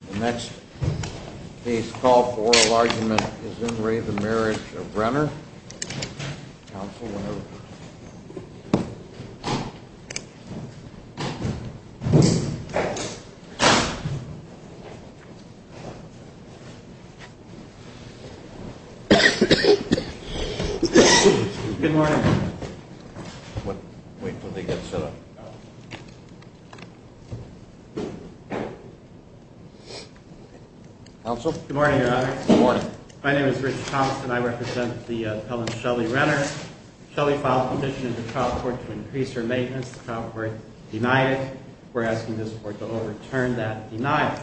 The next case called for oral argument is in re the Marriage of Renner. Counsel, whenever you're ready. Good morning. Wait until they get set up. Counsel. Good morning, Your Honor. Good morning. My name is Richard Thompson. I represent the appellant Shelly Renner. Shelly filed a petition in the trial court to increase her maintenance. The trial court denied it. We're asking this court to overturn that denial.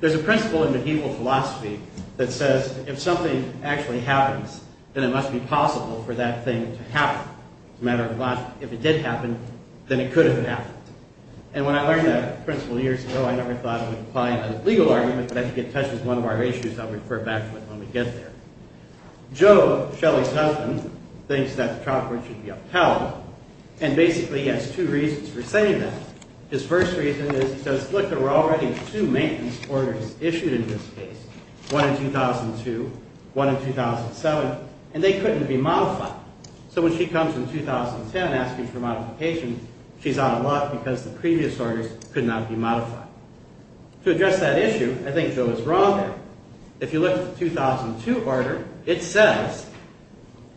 There's a principle in medieval philosophy that says if something actually happens, then it must be possible for that thing to happen. As a matter of fact, if it did happen, then it could have happened. And when I learned that principle years ago, I never thought of applying a legal argument, but I think it touches one of our issues I'll refer back to when we get there. Joe, Shelly's husband, thinks that the trial court should be upheld. And basically he has two reasons for saying that. His first reason is he says, look, there were already two maintenance orders issued in this case. One in 2002, one in 2007, and they couldn't be modified. So when she comes in 2010 asking for modification, she's out of luck because the previous orders could not be modified. To address that issue, I think Joe is wrong there. If you look at the 2002 order, it says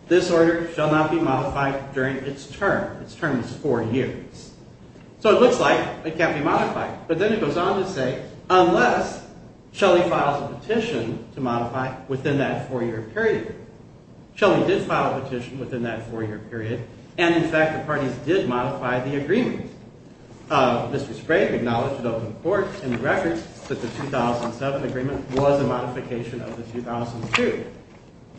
this order shall not be modified during its term. Its term is four years. So it looks like it can't be modified. But then it goes on to say unless Shelly files a petition to modify within that four-year period. Shelly did file a petition within that four-year period. And, in fact, the parties did modify the agreement. Mr. Sprague acknowledged at open court in the records that the 2007 agreement was a modification of the 2002.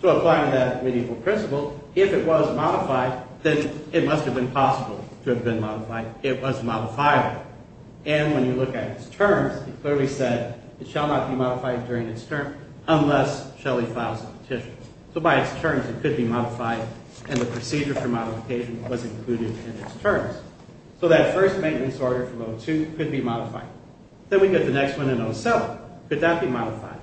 So applying that medieval principle, if it was modified, then it must have been possible to have been modified. It was modifiable. And when you look at its terms, it clearly said it shall not be modified during its term unless Shelly files a petition. So by its terms, it could be modified. And the procedure for modification was included in its terms. So that first maintenance order from 2002 could be modified. Then we get the next one in 2007. Could that be modified?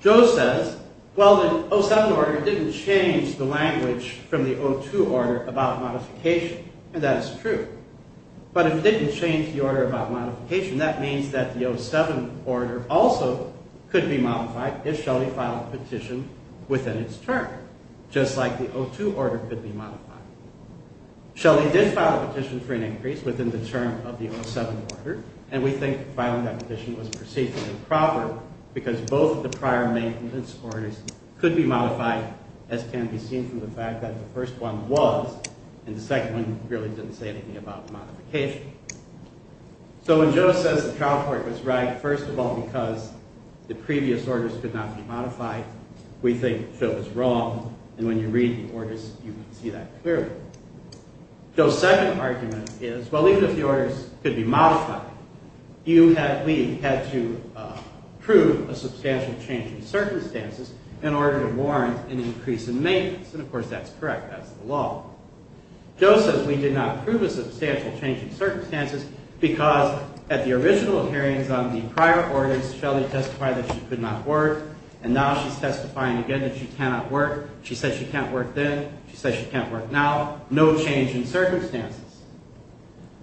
Joe says, well, the 2007 order didn't change the language from the 2002 order about modification. And that is true. But if it didn't change the order about modification, that means that the 2007 order also could be modified if Shelly filed a petition within its term, just like the 2002 order could be modified. Shelly did file a petition for an increase within the term of the 2007 order. And we think filing that petition was procedurally proper because both of the prior maintenance orders could be modified, as can be seen from the fact that the first one was, and the second one really didn't say anything about modification. So when Joe says the trial court was right, first of all, because the previous orders could not be modified, we think Joe is wrong. And when you read the orders, you can see that clearly. Joe's second argument is, well, even if the orders could be modified, we had to prove a substantial change in circumstances in order to warrant an increase in maintenance. And, of course, that's correct. That's the law. Joe says we did not prove a substantial change in circumstances because at the original hearings on the prior orders, Shelly testified that she could not work, and now she's testifying again that she cannot work. She says she can't work then. She says she can't work now. No change in circumstances.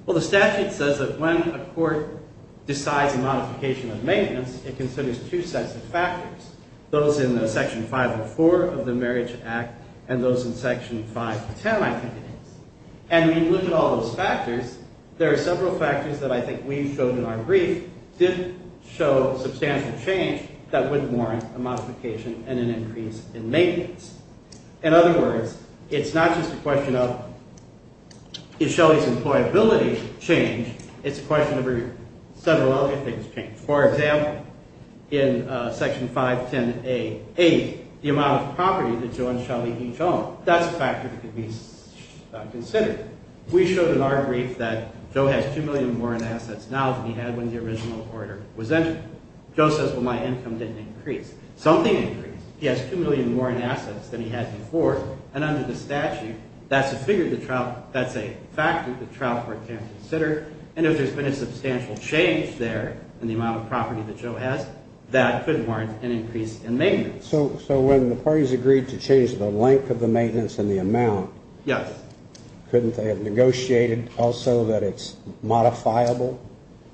Well, the statute says that when a court decides a modification of maintenance, it considers two sets of factors, those in Section 504 of the Marriage Act and those in Section 510, I think it is. And when you look at all those factors, there are several factors that I think we showed in our brief didn't show substantial change that would warrant a modification and an increase in maintenance. In other words, it's not just a question of, is Shelly's employability changed? It's a question of several other things changed. For example, in Section 510A.8, the amount of property that Joe and Shelly each own. That's a factor that could be considered. We showed in our brief that Joe has $2 million more in assets now than he had when the original order was entered. Joe says, well, my income didn't increase. Something increased. He has $2 million more in assets than he had before, and under the statute, that's a factor the trial court can't consider. And if there's been a substantial change there in the amount of property that Joe has, that could warrant an increase in maintenance. So when the parties agreed to change the length of the maintenance and the amount, couldn't they have negotiated also that it's modifiable?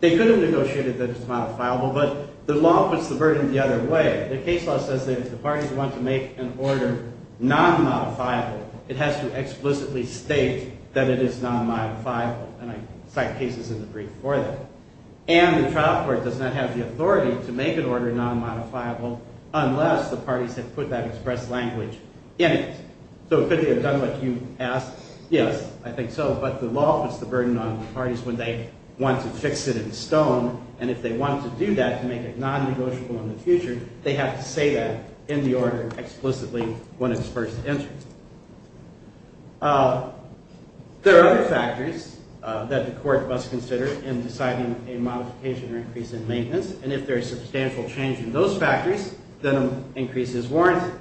They could have negotiated that it's modifiable, but the law puts the burden the other way. The case law says that if the parties want to make an order non-modifiable, it has to explicitly state that it is non-modifiable. And I cite cases in the brief for that. And the trial court does not have the authority to make an order non-modifiable unless the parties have put that express language in it. So could they have done what you asked? Yes, I think so. But the law puts the burden on the parties when they want to fix it in stone, and if they want to do that to make it non-negotiable in the future, they have to say that in the order explicitly when it's first entered. There are other factors that the court must consider in deciding a modification or increase in maintenance, and if there is substantial change in those factors, then an increase is warranted.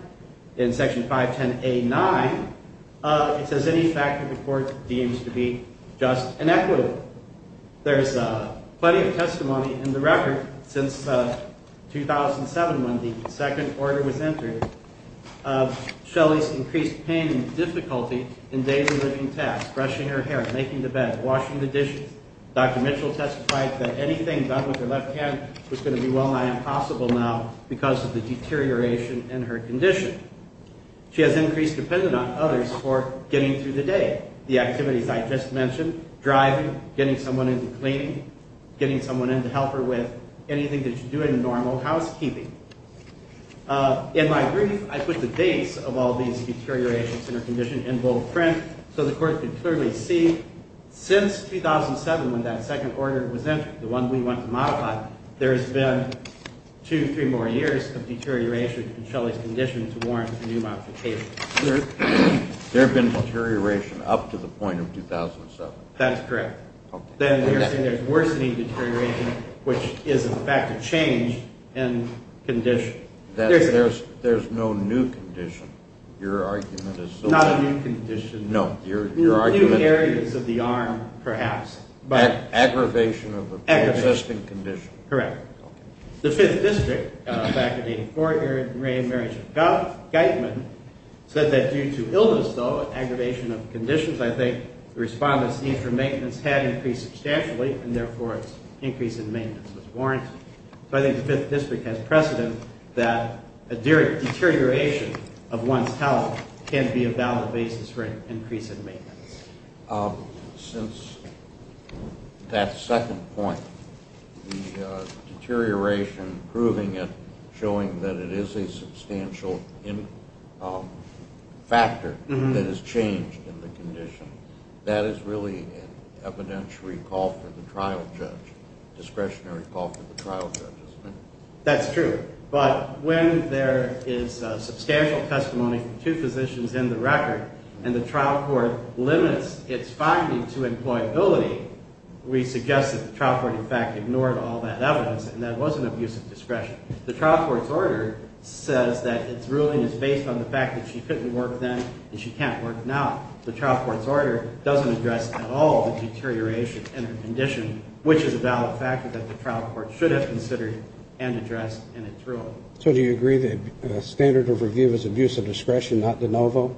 In Section 510A.9, it says any factor the court deems to be just and equitable. There's plenty of testimony in the record since 2007 when the second order was entered. Shelley's increased pain and difficulty in daily living tasks, brushing her hair, making the bed, washing the dishes. Dr. Mitchell testified that anything done with her left hand was going to be well nigh impossible now because of the deterioration in her condition. She has increased dependence on others for getting through the day, the activities I just mentioned, driving, getting someone into cleaning, getting someone in to help her with anything that you do in normal housekeeping. In my brief, I put the dates of all these deteriorations in her condition in bold print so the court could clearly see since 2007 when that second order was entered, the one we went to modify, there's been two, three more years of deterioration in Shelley's condition to warrant a new modification. There have been deterioration up to the point of 2007? That's correct. Okay. Then you're saying there's worsening deterioration, which is in fact a change in condition. There's no new condition, your argument is. Not a new condition. No, your argument. New areas of the arm, perhaps. Aggravation of an existing condition. Correct. The 5th District, back in 1984, Mary Gaitman, said that due to illness, though, and aggravation of conditions, I think the respondent's need for maintenance had increased substantially, and therefore its increase in maintenance was warranted. So I think the 5th District has precedent that a deterioration of one's health can be a valid basis for an increase in maintenance. Since that second point, the deterioration, proving it, showing that it is a substantial factor that has changed in the condition, that is really an evidentiary call for the trial judge, discretionary call for the trial judge, isn't it? That's true. But when there is substantial testimony from two physicians in the record, and the trial court limits its finding to employability, we suggest that the trial court, in fact, ignored all that evidence, and that wasn't abuse of discretion. The trial court's order says that its ruling is based on the fact that she couldn't work then and she can't work now. The trial court's order doesn't address at all the deterioration in her condition, which is a valid factor that the trial court should have considered and addressed in its ruling. So do you agree that the standard of review is abuse of discretion, not de novo?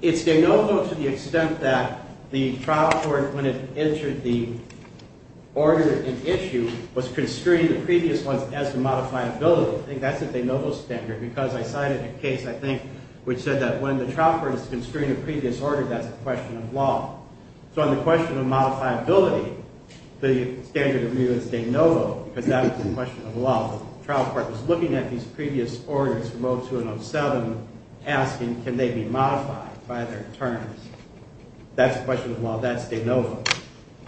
It's de novo to the extent that the trial court, when it entered the order in issue, was construing the previous ones as to modifiability. I think that's the de novo standard, because I cited a case, I think, which said that when the trial court is construing a previous order, that's a question of law. So on the question of modifiability, the standard of review is de novo, because that is a question of law. The trial court was looking at these previous orders from 0207, asking can they be modified by their terms. That's a question of law. That's de novo.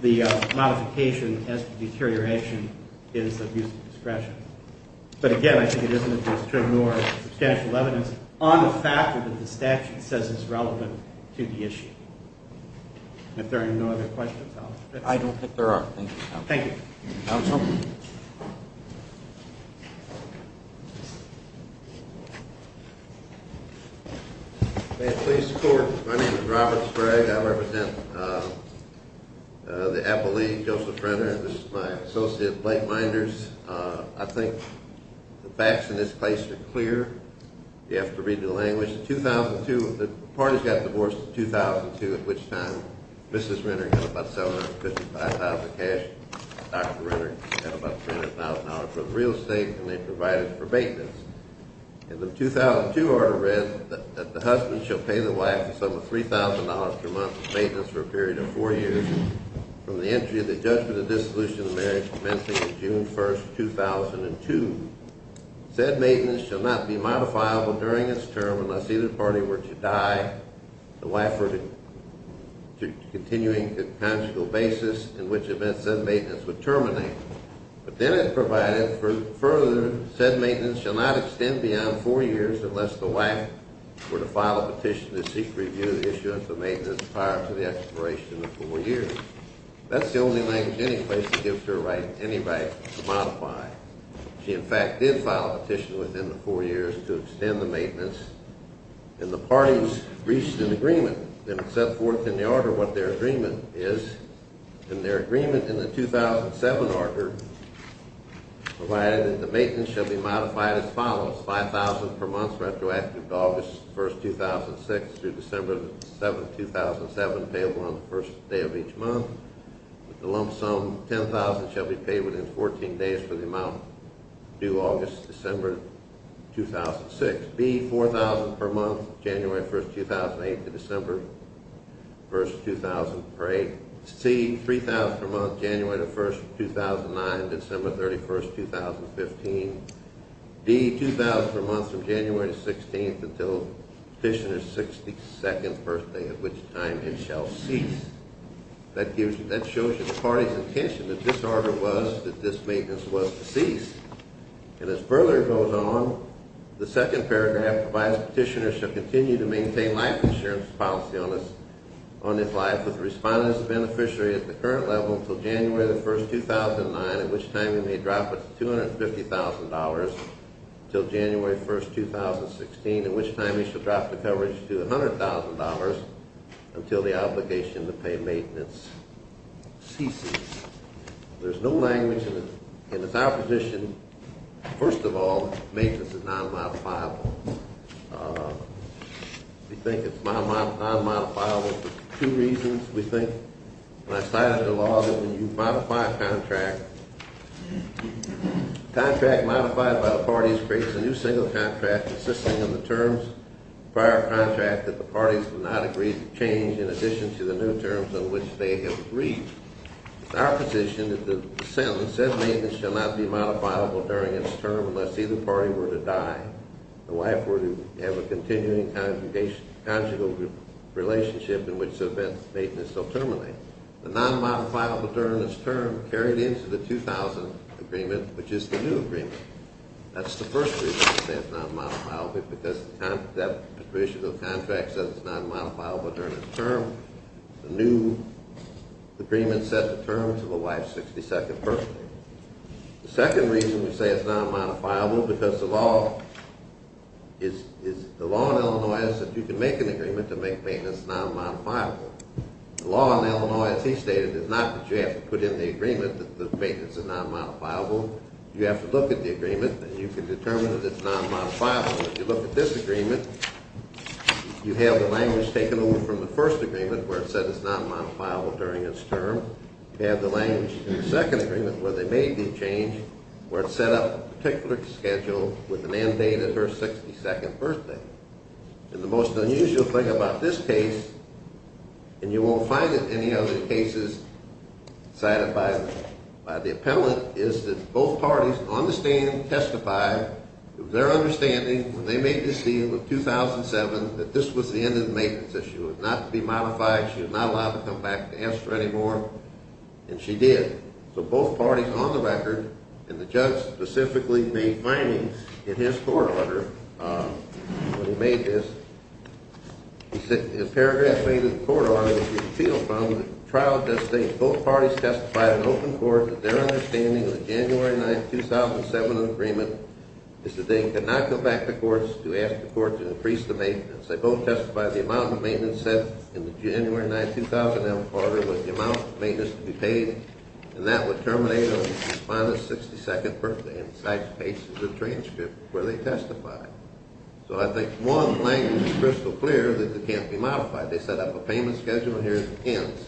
The modification as to deterioration is abuse of discretion. But again, I think it isn't a case to ignore substantial evidence on the factor that the statute says is relevant to the issue. If there are no other questions, I'll stop. I don't think there are. Thank you. Thank you. Counsel? May it please the Court, my name is Robert Sprague. I represent the Apple League, Joseph Renner, and this is my associate, Blake Meinders. I think the facts in this case are clear. You have to read the language. The parties got divorced in 2002, at which time Mrs. Renner had about $755,000 in cash. Dr. Renner had about $300,000 for the real estate, and they provided for maintenance. In the 2002 order read that the husband shall pay the wife a sum of $3,000 per month for maintenance for a period of four years, from the entry of the judgment of dissolution of marriage commencing on June 1, 2002. Said maintenance shall not be modifiable during its term unless either party were to die, the wife were to continue on a consequent basis, in which event said maintenance would terminate. But then it provided, further, said maintenance shall not extend beyond four years unless the wife were to file a petition to seek review of the issue of the maintenance prior to the expiration of four years. That's the only language any place gives her right to modify. She, in fact, did file a petition within the four years to extend the maintenance. And the parties reached an agreement and set forth in the order what their agreement is. And their agreement in the 2007 order provided that the maintenance shall be modified as follows, $5,000 per month retroactive to August 1, 2006, through December 7, 2007, payable on the first day of each month. With the lump sum, $10,000 shall be paid within 14 days for the amount due August, December 2006. B, $4,000 per month January 1, 2008 to December 1, 2008. C, $3,000 per month January 1, 2009 to December 31, 2015. D, $2,000 per month from January 16 until petitioner's 62nd birthday, at which time it shall cease. That shows you the party's intention that this order was, that this maintenance was to cease. And as further goes on, the second paragraph provides petitioner shall continue to maintain life insurance policy on his life with respondents and beneficiary at the current level until January 1, 2009, at which time he may drop it to $250,000 until January 1, 2016, at which time he shall drop the coverage to $100,000 until the obligation to pay maintenance ceases. There's no language in this opposition. First of all, maintenance is non-modifiable. We think it's non-modifiable for two reasons. We think, and I cited the law, that when you modify a contract, a contract modified by the parties creates a new single contract consisting of the terms of the prior contract that the parties have not agreed to change in addition to the new terms on which they have agreed. It's our position that the sentence, said maintenance, shall not be modifiable during its term unless either party were to die, the wife were to have a continuing conjugal relationship in which the maintenance shall terminate. The non-modifiable during its term carried into the 2000 agreement, which is the new agreement. That's the first reason we say it's non-modifiable, because that petition of the contract says it's non-modifiable during its term. The new agreement set the terms of the wife's 62nd birthday. The second reason we say it's non-modifiable, because the law in Illinois is that you can make an agreement to make maintenance non-modifiable. The law in Illinois, as he stated, is not that you have to put in the agreement that the maintenance is non-modifiable. You have to look at the agreement, and you can determine that it's non-modifiable. If you look at this agreement, you have the language taken over from the first agreement where it said it's non-modifiable during its term. You have the language in the second agreement where they made the change where it set up a particular schedule with an end date of her 62nd birthday. And the most unusual thing about this case, and you won't find it in any other cases cited by the appellant, is that both parties on the stand testify of their understanding when they made this deal in 2007 that this was the end of the maintenance issue. It was not to be modified. She was not allowed to come back to answer anymore, and she did. So both parties on the record, and the judge specifically made findings in his court order when he made this, he said in paragraph 8 of the court order, which you can feel from the trial at this stage, both parties testified in open court that their understanding of the January 9, 2007 agreement is that they could not come back to court to ask the court to increase the maintenance. They both testified the amount of maintenance set in the January 9, 2007 court order was the amount of maintenance to be paid, and that would terminate on Mrs. Fonda's 62nd birthday. And the site space is a transcript where they testified. So I think one language is crystal clear that it can't be modified. They set up a payment schedule, and here it ends.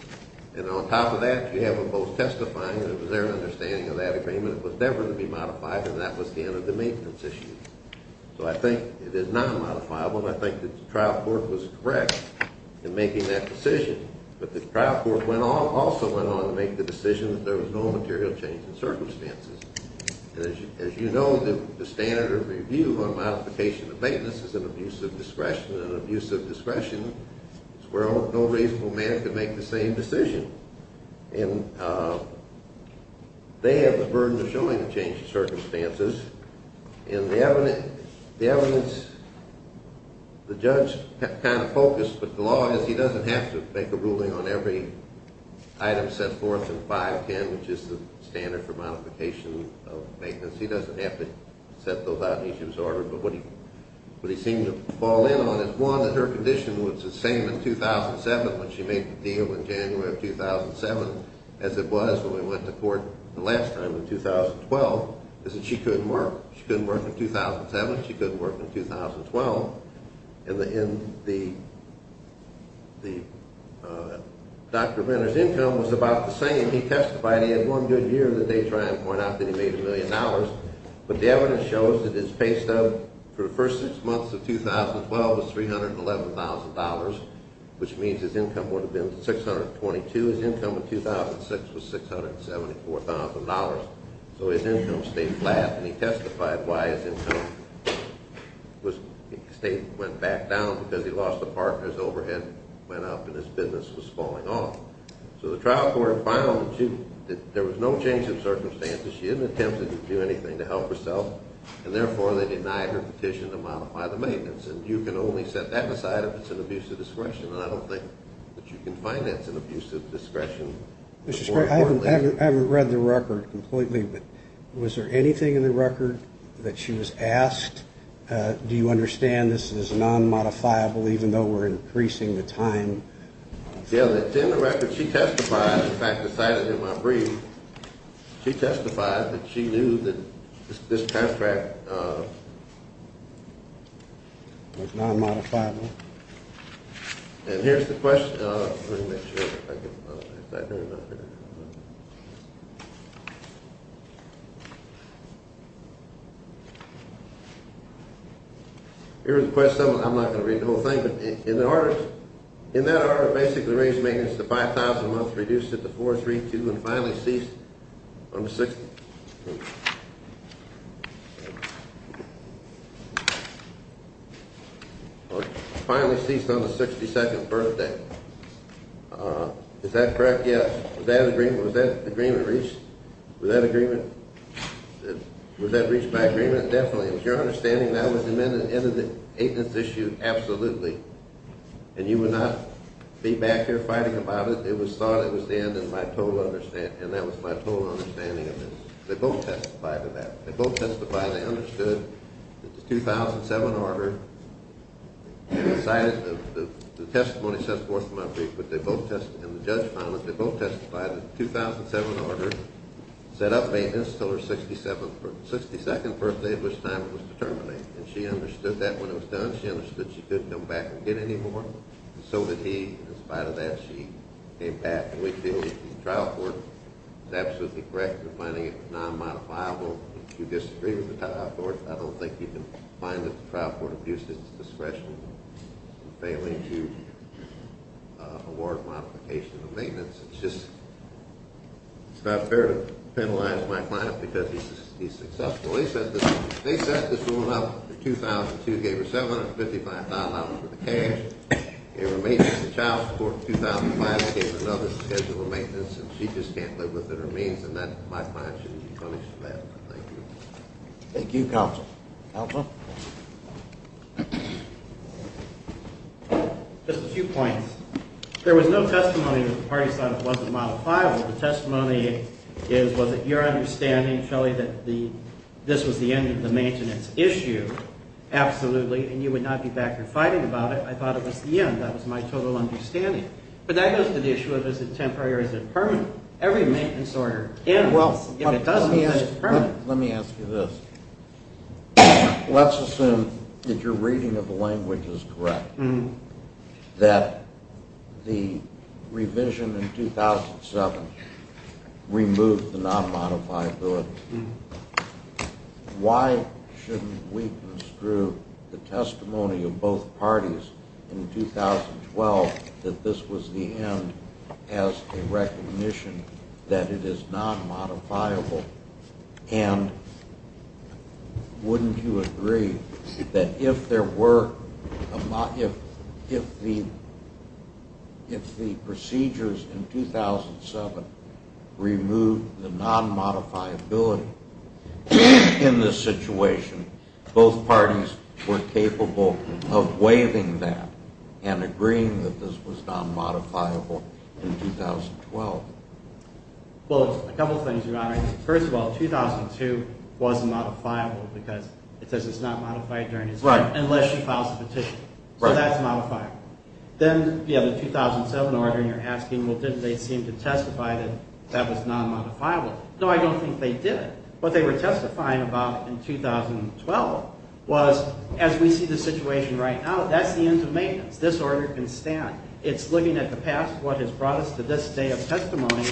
And on top of that, you have them both testifying that it was their understanding of that agreement. It was never to be modified, and that was the end of the maintenance issue. So I think it is not modifiable, and I think that the trial court was correct in making that decision. But the trial court also went on to make the decision that there was no material change in circumstances. And as you know, the standard of review on modification of maintenance is an abuse of discretion, and an abuse of discretion is where no reasonable man could make the same decision. And they have the burden of showing the change of circumstances. And the evidence, the judge kind of focused, but the law is he doesn't have to make a ruling on every item set forth in 510, which is the standard for modification of maintenance. He doesn't have to set those out in each of his orders. But what he seemed to fall in on is, one, that her condition was the same in 2007 when she made the deal in January of 2007, as it was when we went to court the last time in 2012, is that she couldn't work. She couldn't work in 2007. She couldn't work in 2012. And Dr. Renner's income was about the same. He testified he had one good year in the day trying to point out that he made a million dollars. But the evidence shows that his pay stub for the first six months of 2012 was $311,000, which means his income would have been $622,000. His income in 2006 was $674,000. So his income stayed flat. And he testified why his income went back down because he lost a partner, his overhead went up, and his business was falling off. So the trial court found that there was no change in circumstances. She didn't attempt to do anything to help herself, and therefore they denied her petition to modify the maintenance. And you can only set that aside if it's an abuse of discretion, and I don't think that you can find that's an abuse of discretion. Mr. Spray, I haven't read the record completely, but was there anything in the record that she was asked? Do you understand this is non-modifiable even though we're increasing the time? Yeah, it's in the record. When she testified, in fact, the sight of him, I believe, she testified that she knew that this contract was non-modifiable. And here's the question. Here's the question. I'm not going to read the whole thing, but in that order, basically raised maintenance to $5,000 a month, reduced it to $432,000, and finally ceased on the 62nd birthday. Is that correct? Yes. Was that agreement reached? Was that reached by agreement? By agreement, definitely. It was your understanding that was the end of the maintenance issue, absolutely. And you would not be back here fighting about it. It was thought it was the end, and that was my total understanding of it. They both testified to that. They both testified. They understood that the 2007 order, the testimony sets forth from my brief, and the judge found that they both testified that the 2007 order set up maintenance until her 62nd birthday. And she understood that when it was done. She understood she couldn't come back and get any more. And so did he. In spite of that, she came back, and we figured the trial court was absolutely correct in finding it non-modifiable. If you disagree with the trial court, I don't think you can find that the trial court abused its discretion in failing to award modification of maintenance. It's just not fair to penalize my client because he's successful. They set this ruling up in 2002, gave her $755,000 worth of cash, gave her maintenance to child support in 2005, gave her another schedule of maintenance, and she just can't live within her means. And my client shouldn't be punished for that. Thank you. Thank you, Counsel. Counsel? Just a few points. There was no testimony that the parties thought it wasn't modifiable. The testimony is, was it your understanding, Shelly, that this was the end of the maintenance issue? Absolutely. And you would not be back here fighting about it. I thought it was the end. That was my total understanding. But that goes to the issue of is it temporary or is it permanent. Every maintenance order, if it doesn't, is it permanent? Let me ask you this. Let's assume that your reading of the language is correct, that the revision in 2007 removed the non-modifiability. Why shouldn't we construe the testimony of both parties in 2012 that this was the end as a recognition that it is non-modifiable? And wouldn't you agree that if there were, if the procedures in 2007 removed the non-modifiability in this situation, both parties were capable of waiving that and agreeing that this was non-modifiable in 2012? Well, a couple of things, Your Honor. First of all, 2002 was modifiable because it says it's not modified during his time, unless she files a petition. So that's modifiable. Then you have the 2007 order and you're asking, well, didn't they seem to testify that that was non-modifiable? No, I don't think they did. What they were testifying about in 2012 was, as we see the situation right now, that's the end of maintenance. This order can stand. It's looking at the past, what has brought us to this day of testimony,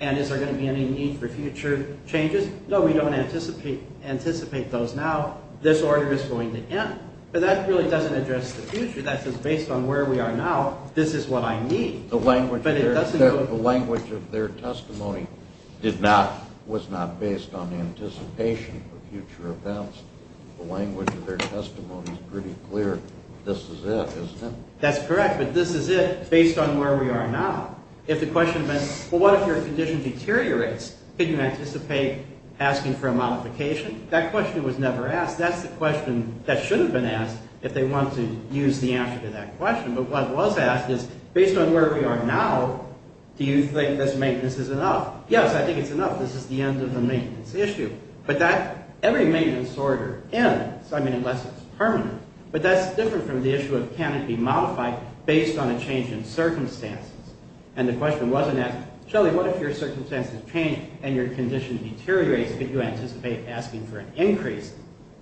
and is there going to be any need for future changes? No, we don't anticipate those now. This order is going to end. But that really doesn't address the future. That's just based on where we are now. This is what I need. The language of their testimony did not, was not based on anticipation for future events. The language of their testimony is pretty clear. This is it, isn't it? That's correct, but this is it, based on where we are now. If the question had been, well, what if your condition deteriorates? Could you anticipate asking for a modification? That question was never asked. That's the question that should have been asked if they want to use the answer to that question. But what was asked is, based on where we are now, do you think this maintenance is enough? Yes, I think it's enough. This is the end of the maintenance issue. But that, every maintenance order ends, I mean, unless it's permanent. But that's different from the issue of can it be modified based on a change in circumstances. And the question wasn't asked, Shelley, what if your circumstances change and your condition deteriorates? Could you anticipate asking for an increase?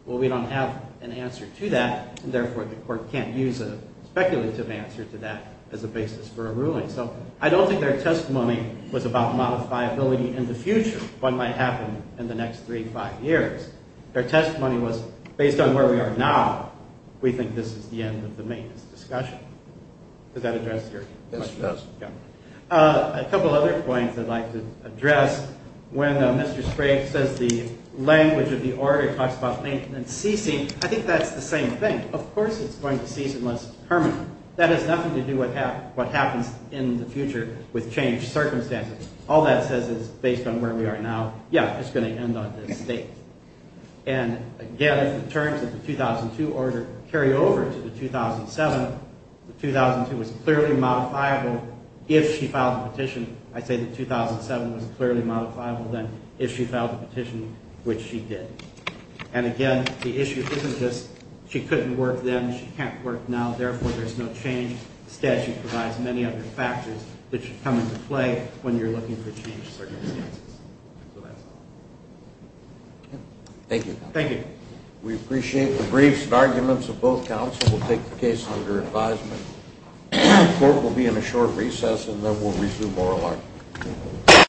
Well, we don't have an answer to that, and therefore the court can't use a speculative answer to that as a basis for a ruling. So I don't think their testimony was about modifiability in the future, what might happen in the next three, five years. Their testimony was, based on where we are now, we think this is the end of the maintenance discussion. Does that address your question? Yes, it does. A couple other points I'd like to address. When Mr. Sprague says the language of the order talks about maintenance ceasing, I think that's the same thing. Of course it's going to cease unless permanent. That has nothing to do with what happens in the future with changed circumstances. All that says is, based on where we are now, yeah, it's going to end on this date. And, again, if the terms of the 2002 order carry over to the 2007, the 2002 was clearly modifiable if she filed the petition. I say the 2007 was clearly modifiable then if she filed the petition, which she did. And, again, the issue isn't just she couldn't work then, she can't work now, therefore there's no change. The statute provides many other factors that should come into play when you're looking for changed circumstances. So that's all. Thank you. Thank you. We appreciate the briefs and arguments of both counsel. We'll take the case under advisement. The court will be in a short recess and then we'll resume oral argument.